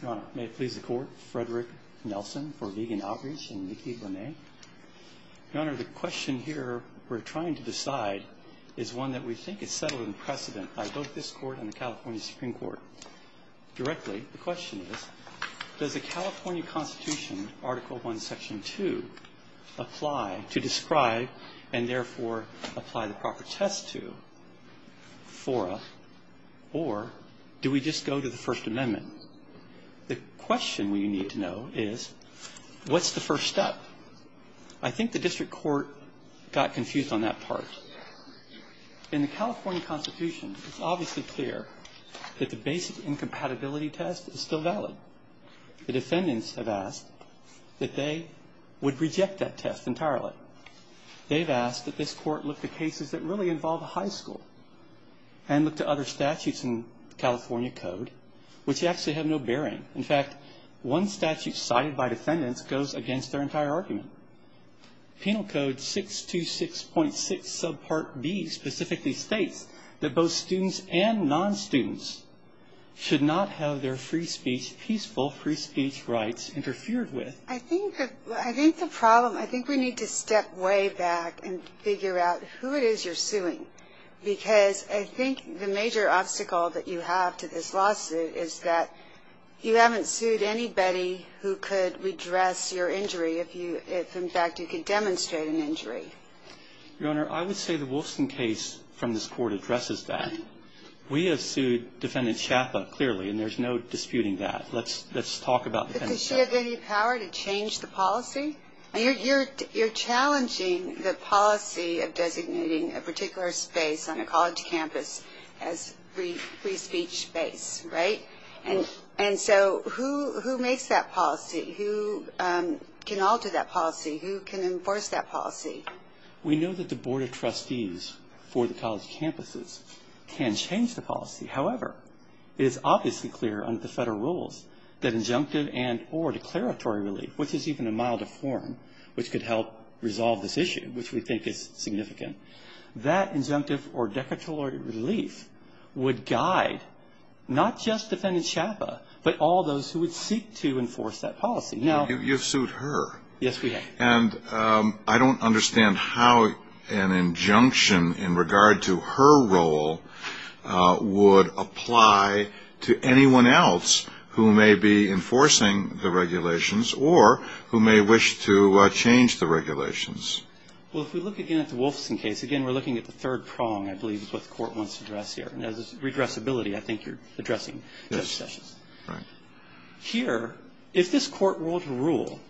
Your Honor, may it please the Court, Frederick Nelson for Vegan Outreach and Nicky Bonet. Your Honor, the question here we're trying to decide is one that we think is settled in precedent. I vote this Court and the California Supreme Court directly. The question is, does the California Constitution, Article I, Section 2, apply to describe and therefore apply the proper test to fora, or do we just go to the First Amendment? The question we need to know is, what's the first step? I think the district court got confused on that part. In the California Constitution, it's obviously clear that the basic incompatibility test is still valid. The defendants have asked that they would reject that test entirely. They've asked that this Court look to cases that really involve a high school and look to other statutes in California code, which actually have no bearing. In fact, one statute cited by defendants goes against their entire argument. Penal Code 626.6 subpart B specifically states that both students and non-students should not have their peaceful free speech rights interfered with. I think the problem, I think we need to step way back and figure out who it is you're suing, because I think the major obstacle that you have to this lawsuit is that you haven't sued anybody who could redress your injury if, in fact, you could demonstrate an injury. Your Honor, I would say the Wolfson case from this Court addresses that. We have sued Defendant Chapa clearly, and there's no disputing that. Let's talk about Defendant Chapa. Does she have any power to change the policy? You're challenging the policy of designating a particular space on a college campus as free speech space, right? And so who makes that policy? Who can alter that policy? Who can enforce that policy? We know that the Board of Trustees for the college campuses can change the policy. However, it is obviously clear under the federal rules that injunctive and or declaratory relief, which is even a milder form which could help resolve this issue, which we think is significant, that injunctive or declaratory relief would guide not just Defendant Chapa, but all those who would seek to enforce that policy. Yes, we have. And I don't understand how an injunction in regard to her role would apply to anyone else who may be enforcing the regulations or who may wish to change the regulations. Well, if we look again at the Wolfson case, again, we're looking at the third prong, I believe, is what the Court wants to address here, and that is redressability, I think you're addressing. Yes, right. Here, if this Court were to rule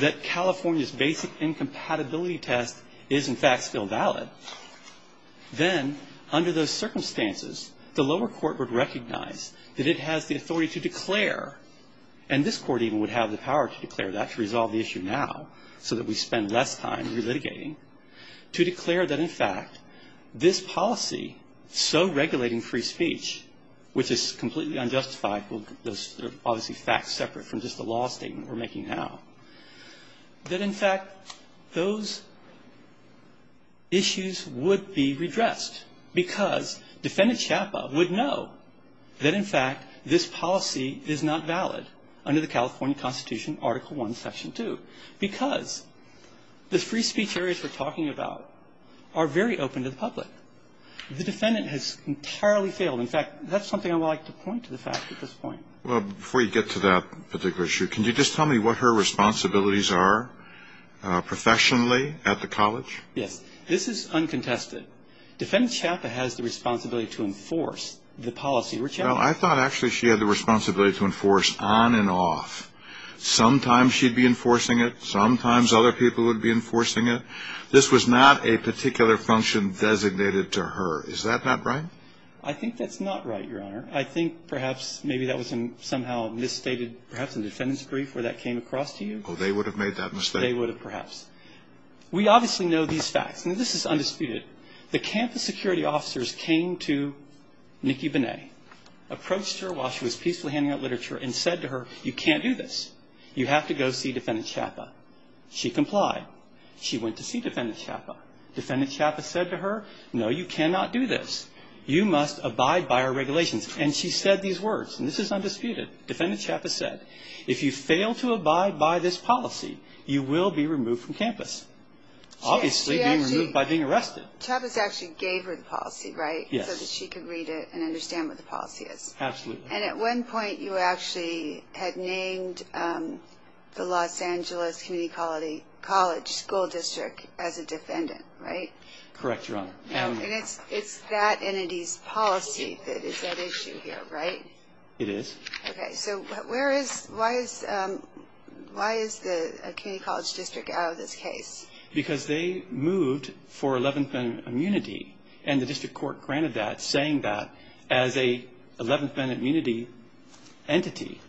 that California's basic incompatibility test is, in fact, still valid, then under those circumstances, the lower court would recognize that it has the authority to declare, and this court even would have the power to declare that to resolve the issue now so that we spend less time relitigating, to declare that, in fact, this policy, so regulating free speech, which is completely unjustified, those are obviously facts separate from just the law statement we're making now, that, in fact, those issues would be redressed because Defendant Chapa would know that, in fact, this policy is not valid under the California Constitution, Article I, Section 2, because the free speech areas we're talking about are very open to the public. The Defendant has entirely failed. In fact, that's something I would like to point to the fact at this point. Well, before you get to that particular issue, can you just tell me what her responsibilities are professionally at the college? Yes. This is uncontested. Defendant Chapa has the responsibility to enforce the policy. Well, I thought actually she had the responsibility to enforce on and off. Sometimes she'd be enforcing it. Sometimes other people would be enforcing it. This was not a particular function designated to her. Is that not right? I think that's not right, Your Honor. I think perhaps maybe that was somehow misstated perhaps in the defendant's brief where that came across to you. Oh, they would have made that mistake. They would have perhaps. We obviously know these facts. Now, this is undisputed. The campus security officers came to Nikki Benet, approached her while she was peacefully handing out literature, and said to her, You can't do this. You have to go see Defendant Chapa. She complied. She went to see Defendant Chapa. Defendant Chapa said to her, No, you cannot do this. You must abide by our regulations. And she said these words, and this is undisputed. Defendant Chapa said, If you fail to abide by this policy, you will be removed from campus. Obviously being removed by being arrested. Chapa actually gave her the policy, right? Yes. So that she could read it and understand what the policy is. Absolutely. And at one point you actually had named the Los Angeles Community College School District as a defendant, right? Correct, Your Honor. And it's that entity's policy that is at issue here, right? It is. Okay. So why is the community college district out of this case? Because they moved for 11th Amendment immunity, and the district court granted that, saying that as an 11th Amendment immunity entity,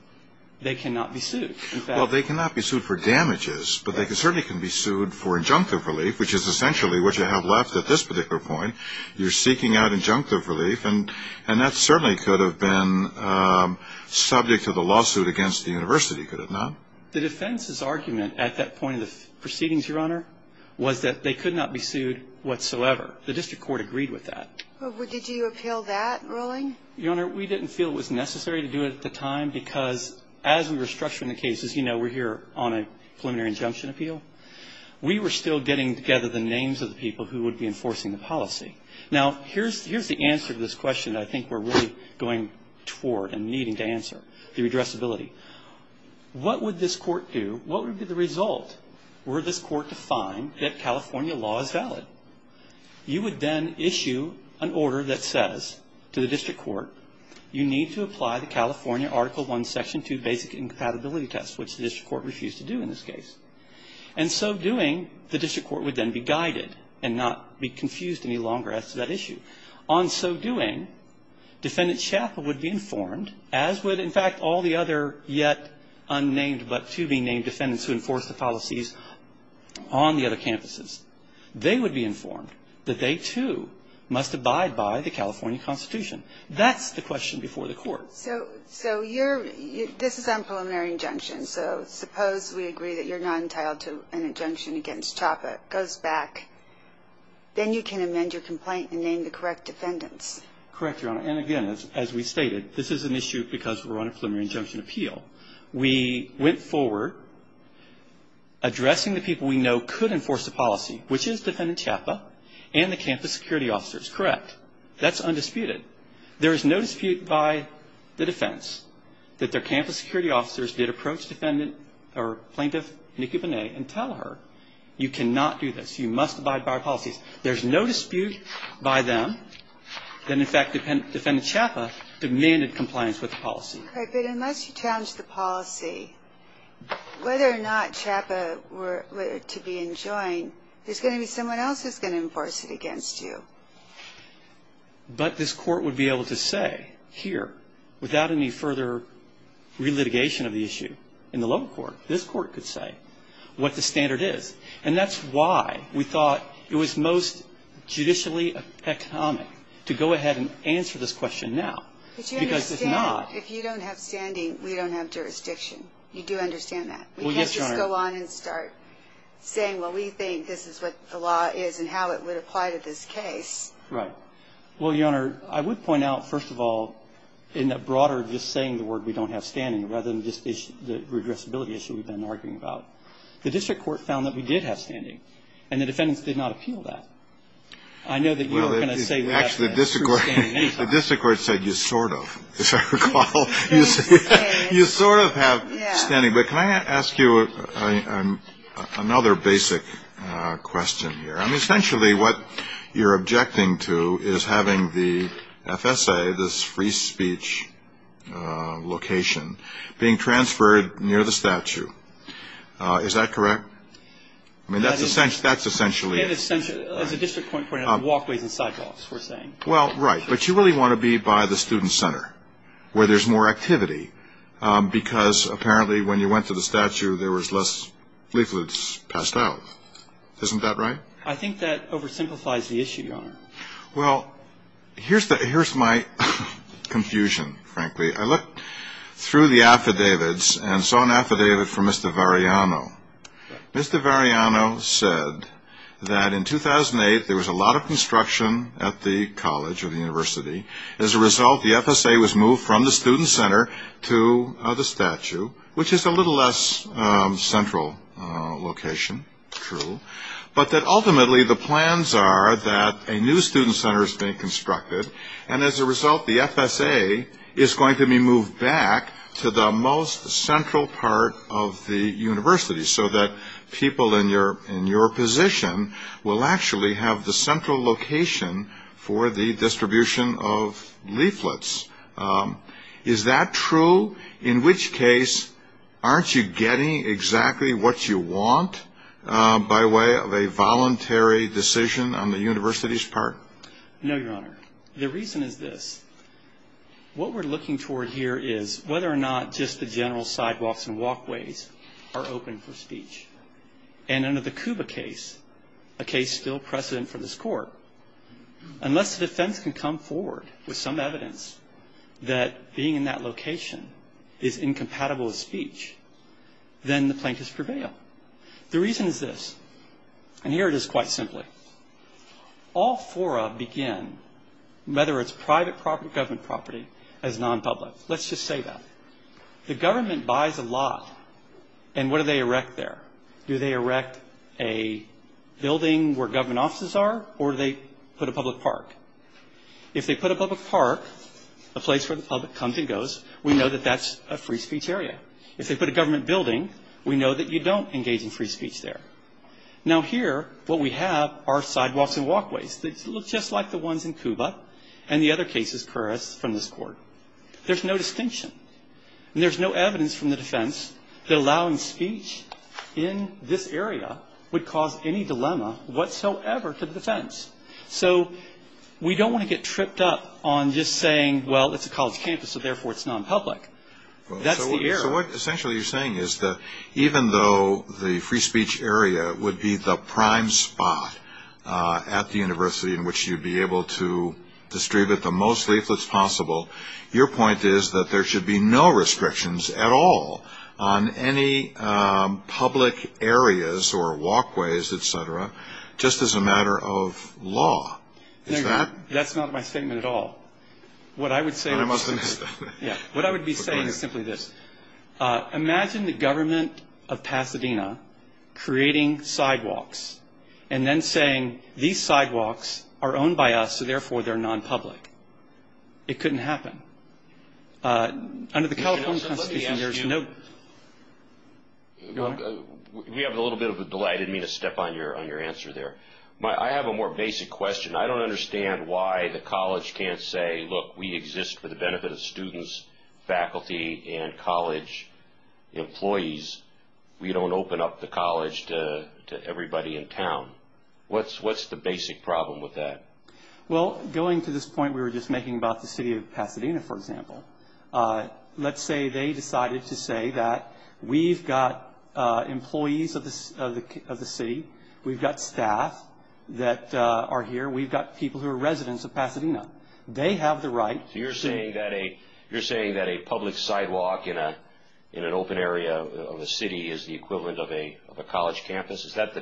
they cannot be sued. Well, they cannot be sued for damages, but they certainly can be sued for injunctive relief, which is essentially what you have left at this particular point. You're seeking out injunctive relief, and that certainly could have been subject to the lawsuit against the university, could it not? The defense's argument at that point in the proceedings, Your Honor, was that they could not be sued whatsoever. The district court agreed with that. Did you appeal that ruling? Your Honor, we didn't feel it was necessary to do it at the time, because as we were structuring the cases, you know, we're here on a preliminary injunction appeal. We were still getting together the names of the people who would be enforcing the policy. Now, here's the answer to this question I think we're really going toward and needing to answer, the redressability. What would this court do? You would then issue an order that says to the district court, you need to apply the California Article I, Section 2 basic incompatibility test, which the district court refused to do in this case. And so doing, the district court would then be guided and not be confused any longer as to that issue. On so doing, Defendant Chappell would be informed, as would, in fact, all the other yet unnamed but to be named defendants who enforced the policies on the other campuses. They would be informed that they, too, must abide by the California Constitution. That's the question before the court. So you're, this is on preliminary injunction. So suppose we agree that you're not entitled to an injunction against Chappell. It goes back. Then you can amend your complaint and name the correct defendants. Correct, Your Honor. And again, as we stated, this is an issue because we're on a preliminary injunction appeal. We went forward addressing the people we know could enforce the policy, which is Defendant Chappell and the campus security officers. Correct. That's undisputed. There is no dispute by the defense that their campus security officers did approach defendant or plaintiff Nikki Bonet and tell her, you cannot do this. You must abide by our policies. There's no dispute by them that, in fact, Defendant Chappell demanded compliance with the policy. Unless you challenge the policy, whether or not Chappell were to be enjoined, there's going to be someone else who's going to enforce it against you. But this court would be able to say here, without any further relitigation of the issue in the lower court, this court could say what the standard is. And that's why we thought it was most judicially economic to go ahead and answer this question now. Because it's not. If you don't have standing, we don't have jurisdiction. You do understand that. Well, yes, Your Honor. We can't just go on and start saying, well, we think this is what the law is and how it would apply to this case. Right. Well, Your Honor, I would point out, first of all, in the broader just saying the word we don't have standing, rather than just the regressibility issue we've been arguing about, the district court found that we did have standing, and the defendants did not appeal that. I know that you're not going to say we have true standing. The district court said you sort of. As I recall, you sort of have standing. But can I ask you another basic question here? I mean, essentially what you're objecting to is having the FSA, this free speech location, being transferred near the statue. Is that correct? I mean, that's essentially it. As the district court pointed out, the walkways and sidewalks, we're saying. Well, right. But you really want to be by the student center where there's more activity, because apparently when you went to the statue there was less leaflets passed out. Isn't that right? I think that oversimplifies the issue, Your Honor. Well, here's my confusion, frankly. I looked through the affidavits and saw an affidavit from Mr. Variano. Mr. Variano said that in 2008 there was a lot of construction at the college or the university. As a result, the FSA was moved from the student center to the statue, which is a little less central location, true, but that ultimately the plans are that a new student center is being constructed, and as a result the FSA is going to be moved back to the most central part of the university so that people in your position will actually have the central location for the distribution of leaflets. Is that true? In which case aren't you getting exactly what you want by way of a voluntary decision on the university's part? No, Your Honor. The reason is this. What we're looking toward here is whether or not just the general sidewalks and walkways are open for speech, and under the Cuba case, a case still precedent for this court, unless the defense can come forward with some evidence that being in that location is incompatible with speech, then the plaintiffs prevail. The reason is this, and here it is quite simply. All four of them begin, whether it's private property, government property, as non-public. Let's just say that. The government buys a lot, and what do they erect there? Do they erect a building where government offices are, or do they put a public park? If they put a public park, a place where the public comes and goes, we know that that's a free speech area. If they put a government building, we know that you don't engage in free speech there. Now here, what we have are sidewalks and walkways. They look just like the ones in Cuba and the other cases from this court. There's no distinction, and there's no evidence from the defense that allowing speech in this area would cause any dilemma whatsoever to the defense. So we don't want to get tripped up on just saying, well, it's a college campus, so therefore it's non-public. That's the error. So what essentially you're saying is that even though the free speech area would be the prime spot at the university in which you'd be able to distribute the most leaflets possible, your point is that there should be no restrictions at all on any public areas or walkways, et cetera, just as a matter of law. Is that? That's not my statement at all. What I would be saying is simply this. Imagine the government of Pasadena creating sidewalks and then saying these sidewalks are owned by us, so therefore they're non-public. It couldn't happen. Under the California Constitution, there's no – We have a little bit of a delay. I didn't mean to step on your answer there. I have a more basic question. I don't understand why the college can't say, look, we exist for the benefit of students, faculty, and college employees. We don't open up the college to everybody in town. What's the basic problem with that? Well, going to this point we were just making about the city of Pasadena, for example, let's say they decided to say that we've got employees of the city. We've got staff that are here. We've got people who are residents of Pasadena. They have the right to say – So you're saying that a public sidewalk in an open area of a city is the equivalent of a college campus? Is that the –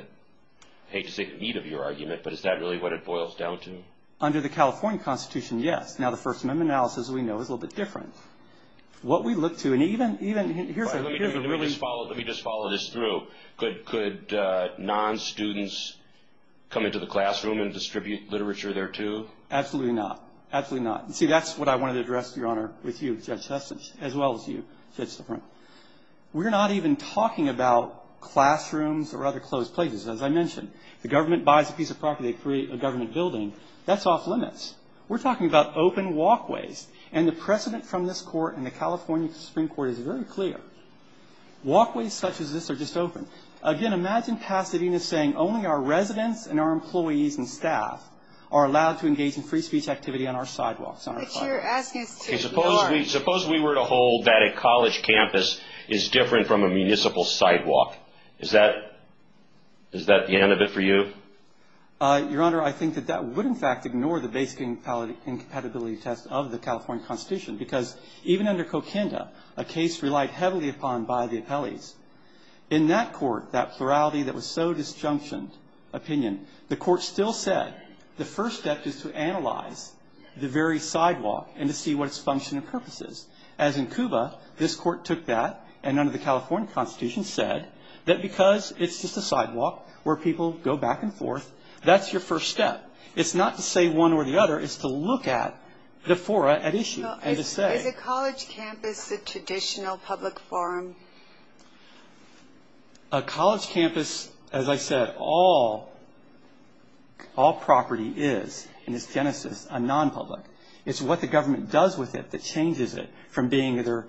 I hate to take the heat of your argument, but is that really what it boils down to? Under the California Constitution, yes. Now, the First Amendment analysis we know is a little bit different. What we look to, and even – Let me just follow this through. Could non-students come into the classroom and distribute literature there, too? Absolutely not. Absolutely not. See, that's what I wanted to address, Your Honor, with you, Judge Heston, as well as you, Judge Stefano. We're not even talking about classrooms or other closed places. As I mentioned, the government buys a piece of property, they create a government building. That's off limits. We're talking about open walkways. And the precedent from this court and the California Supreme Court is very clear. Walkways such as this are just open. Again, imagine Pasadena saying only our residents and our employees and staff are allowed to engage in free speech activity on our sidewalks. But you're asking us to ignore it. Suppose we were to hold that a college campus is different from a municipal sidewalk. Is that the end of it for you? Your Honor, I think that that would, in fact, ignore the basic incompatibility test of the California Constitution because even under Coquinda, a case relied heavily upon by the appellees. In that court, that plurality that was so disjunctioned opinion, the court still said the first step is to analyze the very sidewalk and to see what its function and purpose is. As in Cuba, this court took that and under the California Constitution said that because it's just a sidewalk where people go back and forth, that's your first step. It's not to say one or the other. It's to look at the fora at issue and to say. Is a college campus a traditional public forum? A college campus, as I said, all property is in its genesis a nonpublic. It's what the government does with it that changes it from being either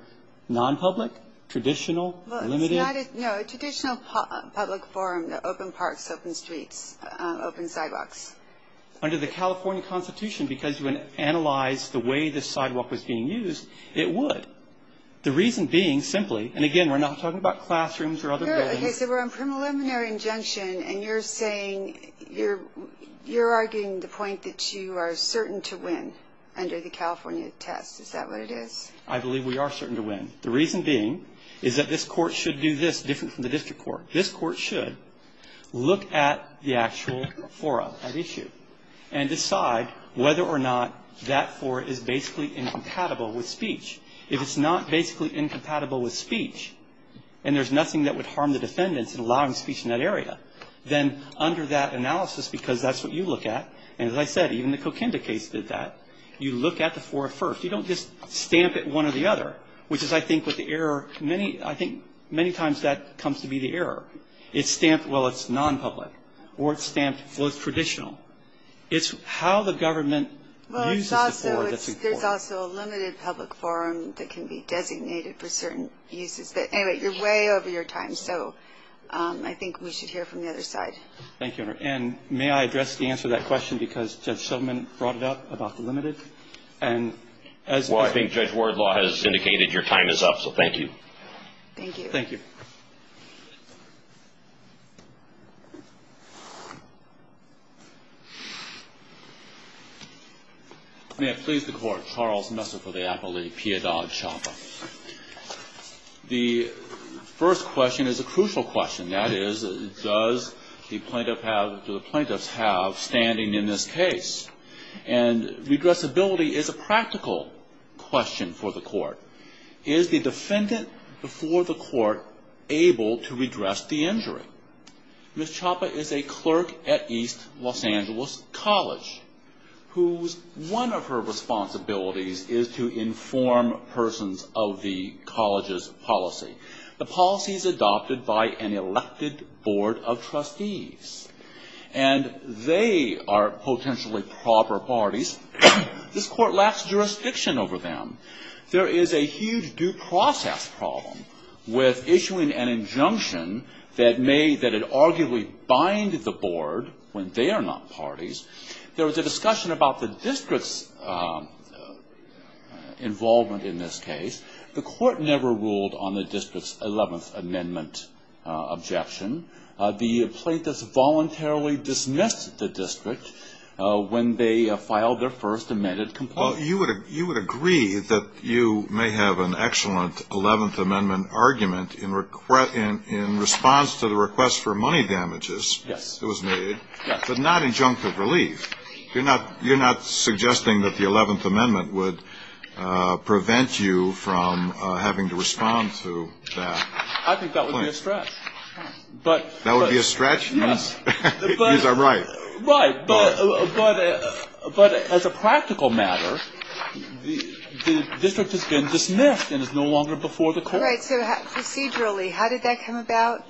nonpublic, traditional, limited. No, a traditional public forum, the open parks, open streets, open sidewalks. Under the California Constitution, because you analyze the way the sidewalk was being used, it would. The reason being simply, and again, we're not talking about classrooms or other buildings. Okay, so we're on preliminary injunction and you're saying, you're arguing the point that you are certain to win under the California test. Is that what it is? I believe we are certain to win. The reason being is that this court should do this different from the district court. This court should look at the actual fora at issue and decide whether or not that fora is basically incompatible with speech. If it's not basically incompatible with speech and there's nothing that would harm the defendants in allowing speech in that area, then under that analysis, because that's what you look at, and as I said, even the Coquinda case did that, you look at the fora first. You don't just stamp it one or the other, which is, I think, with the error. I think many times that comes to be the error. It's stamped, well, it's nonpublic, or it's stamped, well, it's traditional. It's how the government uses the fora that's important. There's also a limited public forum that can be designated for certain uses. Anyway, you're way over your time, so I think we should hear from the other side. Thank you, Your Honor. And may I address the answer to that question because Judge Shulman brought it up about the limited? Well, I think Judge Wardlaw has indicated your time is up, so thank you. Thank you. Thank you. May it please the Court, Charles Messer for the appellate, Pia Dodd-Shopper. The first question is a crucial question. That is, does the plaintiff have, do the plaintiffs have standing in this case? And redressability is a practical question for the Court. Is the defendant before the Court able to redress the injury? Ms. Choppa is a clerk at East Los Angeles College whose one of her responsibilities is to inform persons of the college's policy. The policy is adopted by an elected board of trustees, and they are potentially proper parties. This Court lacks jurisdiction over them. There is a huge due process problem with issuing an injunction that may, that would arguably bind the board when they are not parties. There was a discussion about the district's involvement in this case. The Court never ruled on the district's 11th Amendment objection. The plaintiffs voluntarily dismissed the district when they filed their first amended complaint. Well, you would agree that you may have an excellent 11th Amendment argument in response to the request for money damages that was made, but not injunctive relief. You're not suggesting that the 11th Amendment would prevent you from having to respond to that complaint? I think that would be a stretch. That would be a stretch? Right, but as a practical matter, the district has been dismissed and is no longer before the Court. All right, so procedurally, how did that come about?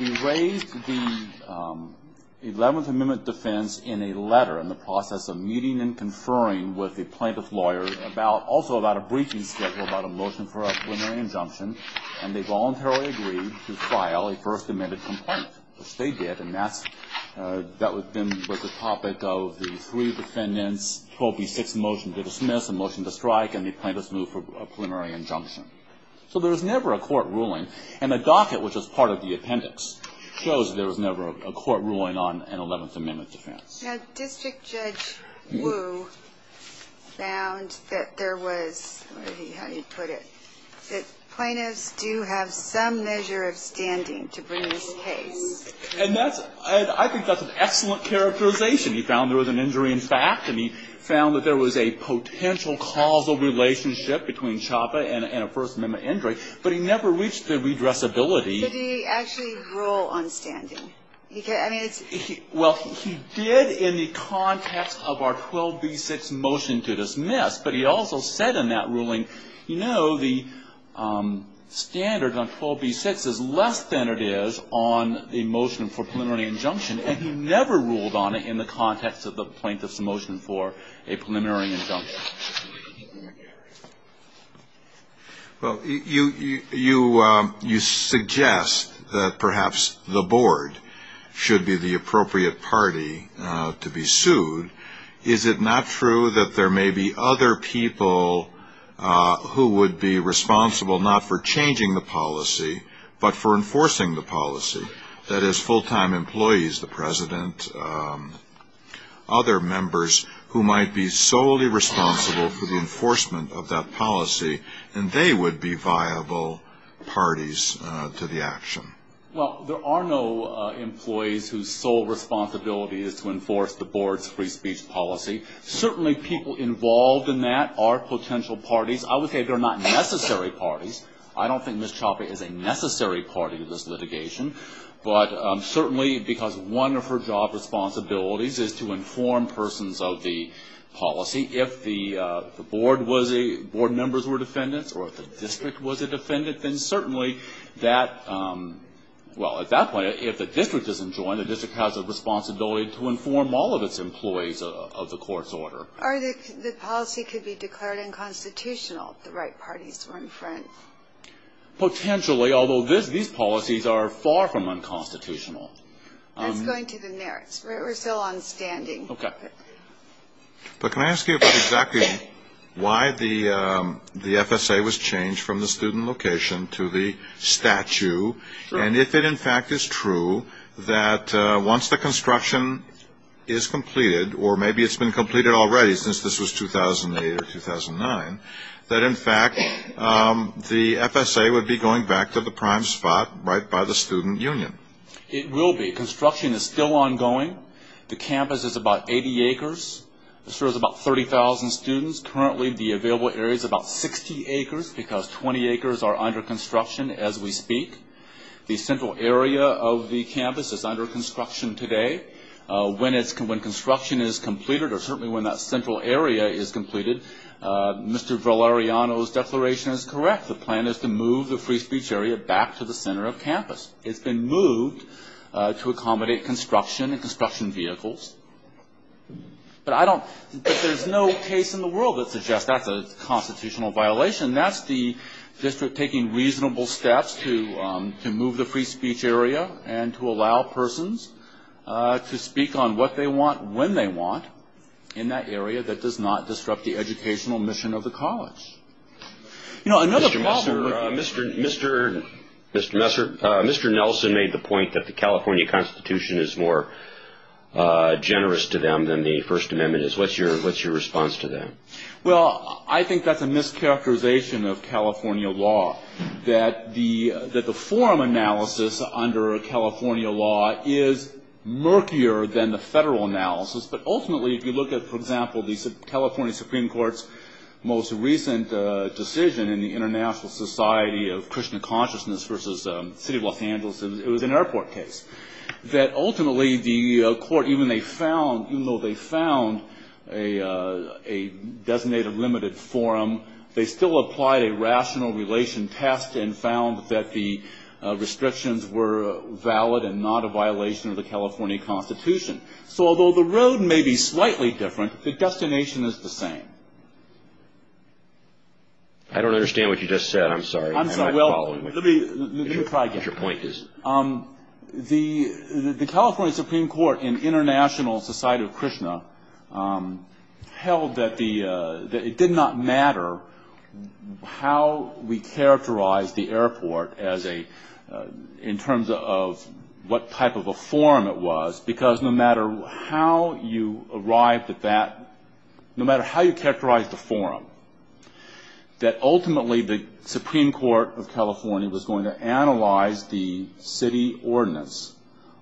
We raised the 11th Amendment defense in a letter in the process of meeting and conferring with the plaintiff's lawyer, also about a breaching schedule, about a motion for a preliminary injunction, and they voluntarily agreed to file a first amended complaint, which they did. And that was the topic of the three defendants' 12B6 motion to dismiss, a motion to strike, and the plaintiff's move for a preliminary injunction. So there was never a court ruling. And a docket, which was part of the appendix, shows there was never a court ruling on an 11th Amendment defense. Now, District Judge Wu found that there was, how do you put it, that plaintiffs do have some measure of standing to bring this case. And I think that's an excellent characterization. He found there was an injury in fact, and he found that there was a potential causal relationship between CHOPPA and a First Amendment injury, but he never reached the redressability. Did he actually rule on standing? Well, he did in the context of our 12B6 motion to dismiss, but he also said in that ruling, you know, the standard on 12B6 is less than it is on a motion for a preliminary injunction, and he never ruled on it in the context of the plaintiff's motion for a preliminary injunction. Well, you suggest that perhaps the board should be the appropriate party to be sued. Is it not true that there may be other people who would be responsible not for changing the policy, but for enforcing the policy? That is, full-time employees, the president, other members who might be solely responsible for enforcing the policy. And they would be viable parties to the action. Well, there are no employees whose sole responsibility is to enforce the board's free speech policy. Certainly people involved in that are potential parties. I would say they're not necessary parties. I don't think Ms. CHOPPA is a necessary party to this litigation, but certainly because one of her job responsibilities is to inform persons of the policy. If the board members were defendants or if the district was a defendant, then certainly that, well, at that point, if the district isn't joined, the district has a responsibility to inform all of its employees of the court's order. Or the policy could be declared unconstitutional if the right parties were in front. Potentially, although these policies are far from unconstitutional. That's going to the merits. We're still on standing. But can I ask you about exactly why the FSA was changed from the student location to the statue, and if it in fact is true that once the construction is completed, or maybe it's been completed already since this was 2008 or 2009, that in fact the FSA would be going back to the prime spot right by the student union? It will be. Construction is still ongoing. The campus is about 80 acres. There's about 30,000 students. Currently the available area is about 60 acres because 20 acres are under construction as we speak. The central area of the campus is under construction today. When construction is completed, or certainly when that central area is completed, Mr. Valeriano's declaration is correct. The plan is to move the free speech area back to the center of campus. It's been moved to accommodate construction and construction vehicles. But there's no case in the world that suggests that's a constitutional violation. That's the district taking reasonable steps to move the free speech area and to allow persons to speak on what they want, when they want, in that area that does not disrupt the educational mission of the college. Mr. Nelson made the point that the California Constitution is more generous to them than the First Amendment is. What's your response to that? Well, I think that's a mischaracterization of California law, that the forum analysis under California law is murkier than the federal analysis. But ultimately, if you look at, for example, the California Supreme Court's most recent decision in the International Society of Krishna Consciousness versus the City of Los Angeles, it was an airport case, that ultimately the court, even though they found a designated limited forum, they still applied a rational relation test and found that the restrictions were valid and not a violation of the California Constitution. So although the road may be slightly different, the destination is the same. I don't understand what you just said. I'm sorry. It did not matter how we characterized the airport in terms of what type of a forum it was, no matter how you characterized the forum, ultimately the Supreme Court of California was going to analyze the city ordinance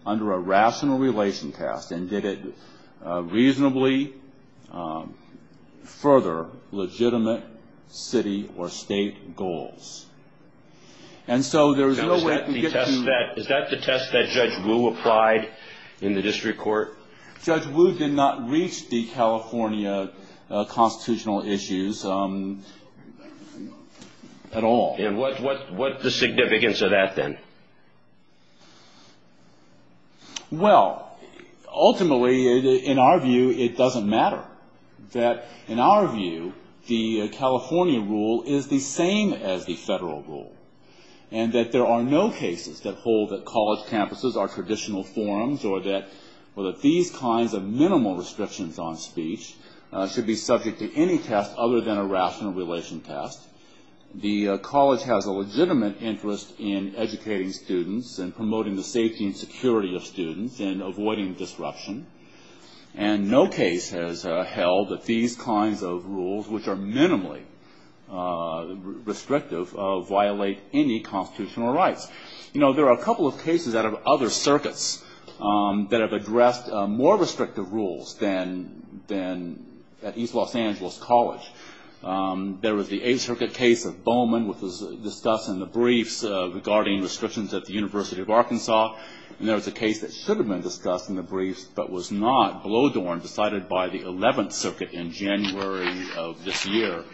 under a rational relation test and did it reasonably further legitimate city or state goals. Is that the test that Judge Wu applied in the district court? Judge Wu did not reach the California constitutional issues at all. And what's the significance of that then? Well, ultimately, in our view, it doesn't matter. In our view, the California rule is the same as the federal rule and that there are no cases that hold that college campuses are traditional forums or that these kinds of minimal restrictions on speech should be subject to any test other than a rational relation test. The college has a legitimate interest in educating students and promoting the safety and security of students and avoiding disruption. And no case has held that these kinds of rules, which are minimally restrictive, violate any constitutional rights. You know, there are a couple of cases out of other circuits that have addressed more restrictive rules than at East Los Angeles College. There was the 8th Circuit case of Bowman, which was discussed in the briefs regarding restrictions at the University of Arkansas. And there was a case that should have been discussed in the briefs but was not, Blodorn, decided by the 11th Circuit in January of this year,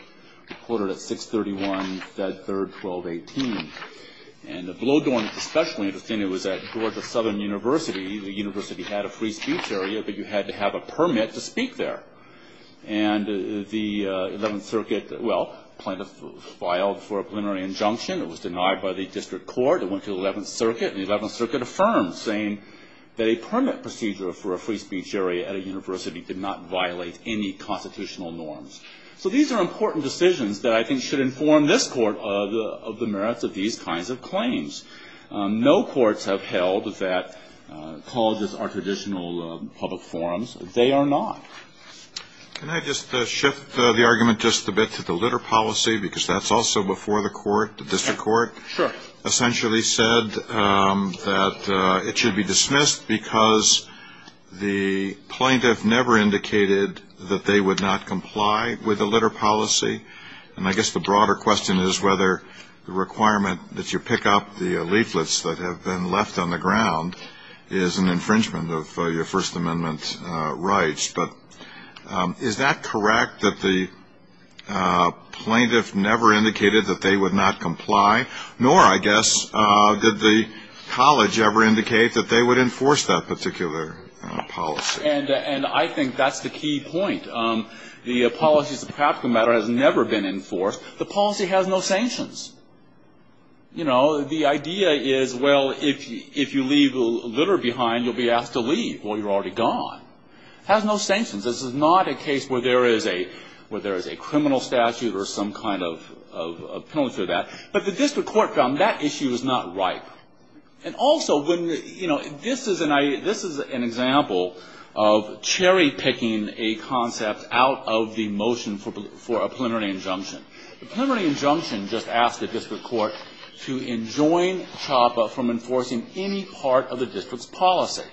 recorded at 631, 3rd, 1218. And Blodorn was especially interesting. It was at Georgia Southern University. The university had a free speech area, but you had to have a permit to speak there. And the 11th Circuit, well, filed for a plenary injunction. It was denied by the district court. It went to the 11th Circuit, and the 11th Circuit affirmed, saying that a permit procedure for a free speech area at a university did not violate any constitutional norms. So these are important decisions that I think should inform this Court of the merits of these kinds of claims. No courts have held that colleges are traditional public forums. They are not. Can I just shift the argument just a bit to the litter policy, because that's also before the court, the district court? Sure. The district court essentially said that it should be dismissed because the plaintiff never indicated that they would not comply with the litter policy. And I guess the broader question is whether the requirement that you pick up the leaflets that have been left on the ground is an infringement of your First Amendment rights. But is that correct, that the plaintiff never indicated that they would not comply? Nor, I guess, did the college ever indicate that they would enforce that particular policy. And I think that's the key point. The policy as a practical matter has never been enforced. The policy has no sanctions. You know, the idea is, well, if you leave litter behind, you'll be asked to leave. Well, you're already gone. It has no sanctions. This is not a case where there is a criminal statute or some kind of penalty for that. But the district court found that issue is not ripe. And also, you know, this is an example of cherry-picking a concept out of the motion for a preliminary injunction. The preliminary injunction just asked the district court to enjoin CHOPPA from enforcing any part of the district's policy.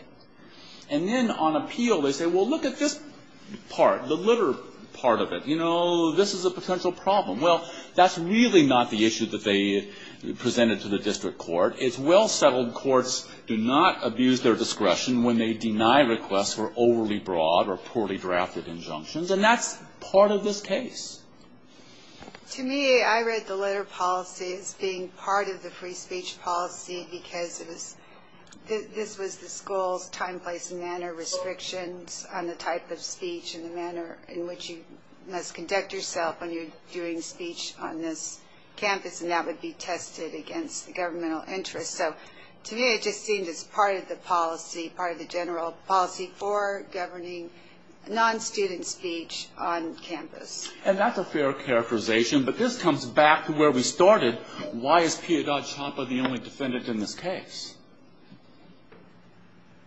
And then on appeal, they say, well, look at this part, the litter part of it. You know, this is a potential problem. Well, that's really not the issue that they presented to the district court. It's well-settled courts do not abuse their discretion when they deny requests for overly broad or poorly drafted injunctions, and that's part of this case. To me, I read the litter policy as being part of the free speech policy because this was the school's time, place, and manner restrictions on the type of speech and the manner in which you must conduct yourself when you're doing speech on this campus, and that would be tested against the governmental interest. So to me, it just seemed as part of the policy, part of the general policy for governing non-student speech on campus. And that's a fair characterization, but this comes back to where we started. Why is Piedad CHOPPA the only defendant in this case?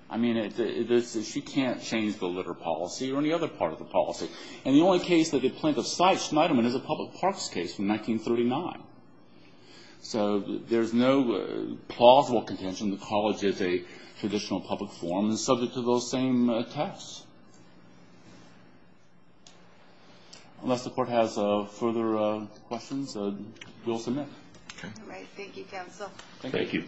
I mean, she can't change the litter policy or any other part of the policy. And the only case that they plaintiff cites, Schneiderman, is a public parks case from 1939. So there's no plausible contention that the college is a traditional public forum that's subject to those same attacks. Unless the court has further questions, we'll submit. All right, thank you, counsel. Thank you. Thank you.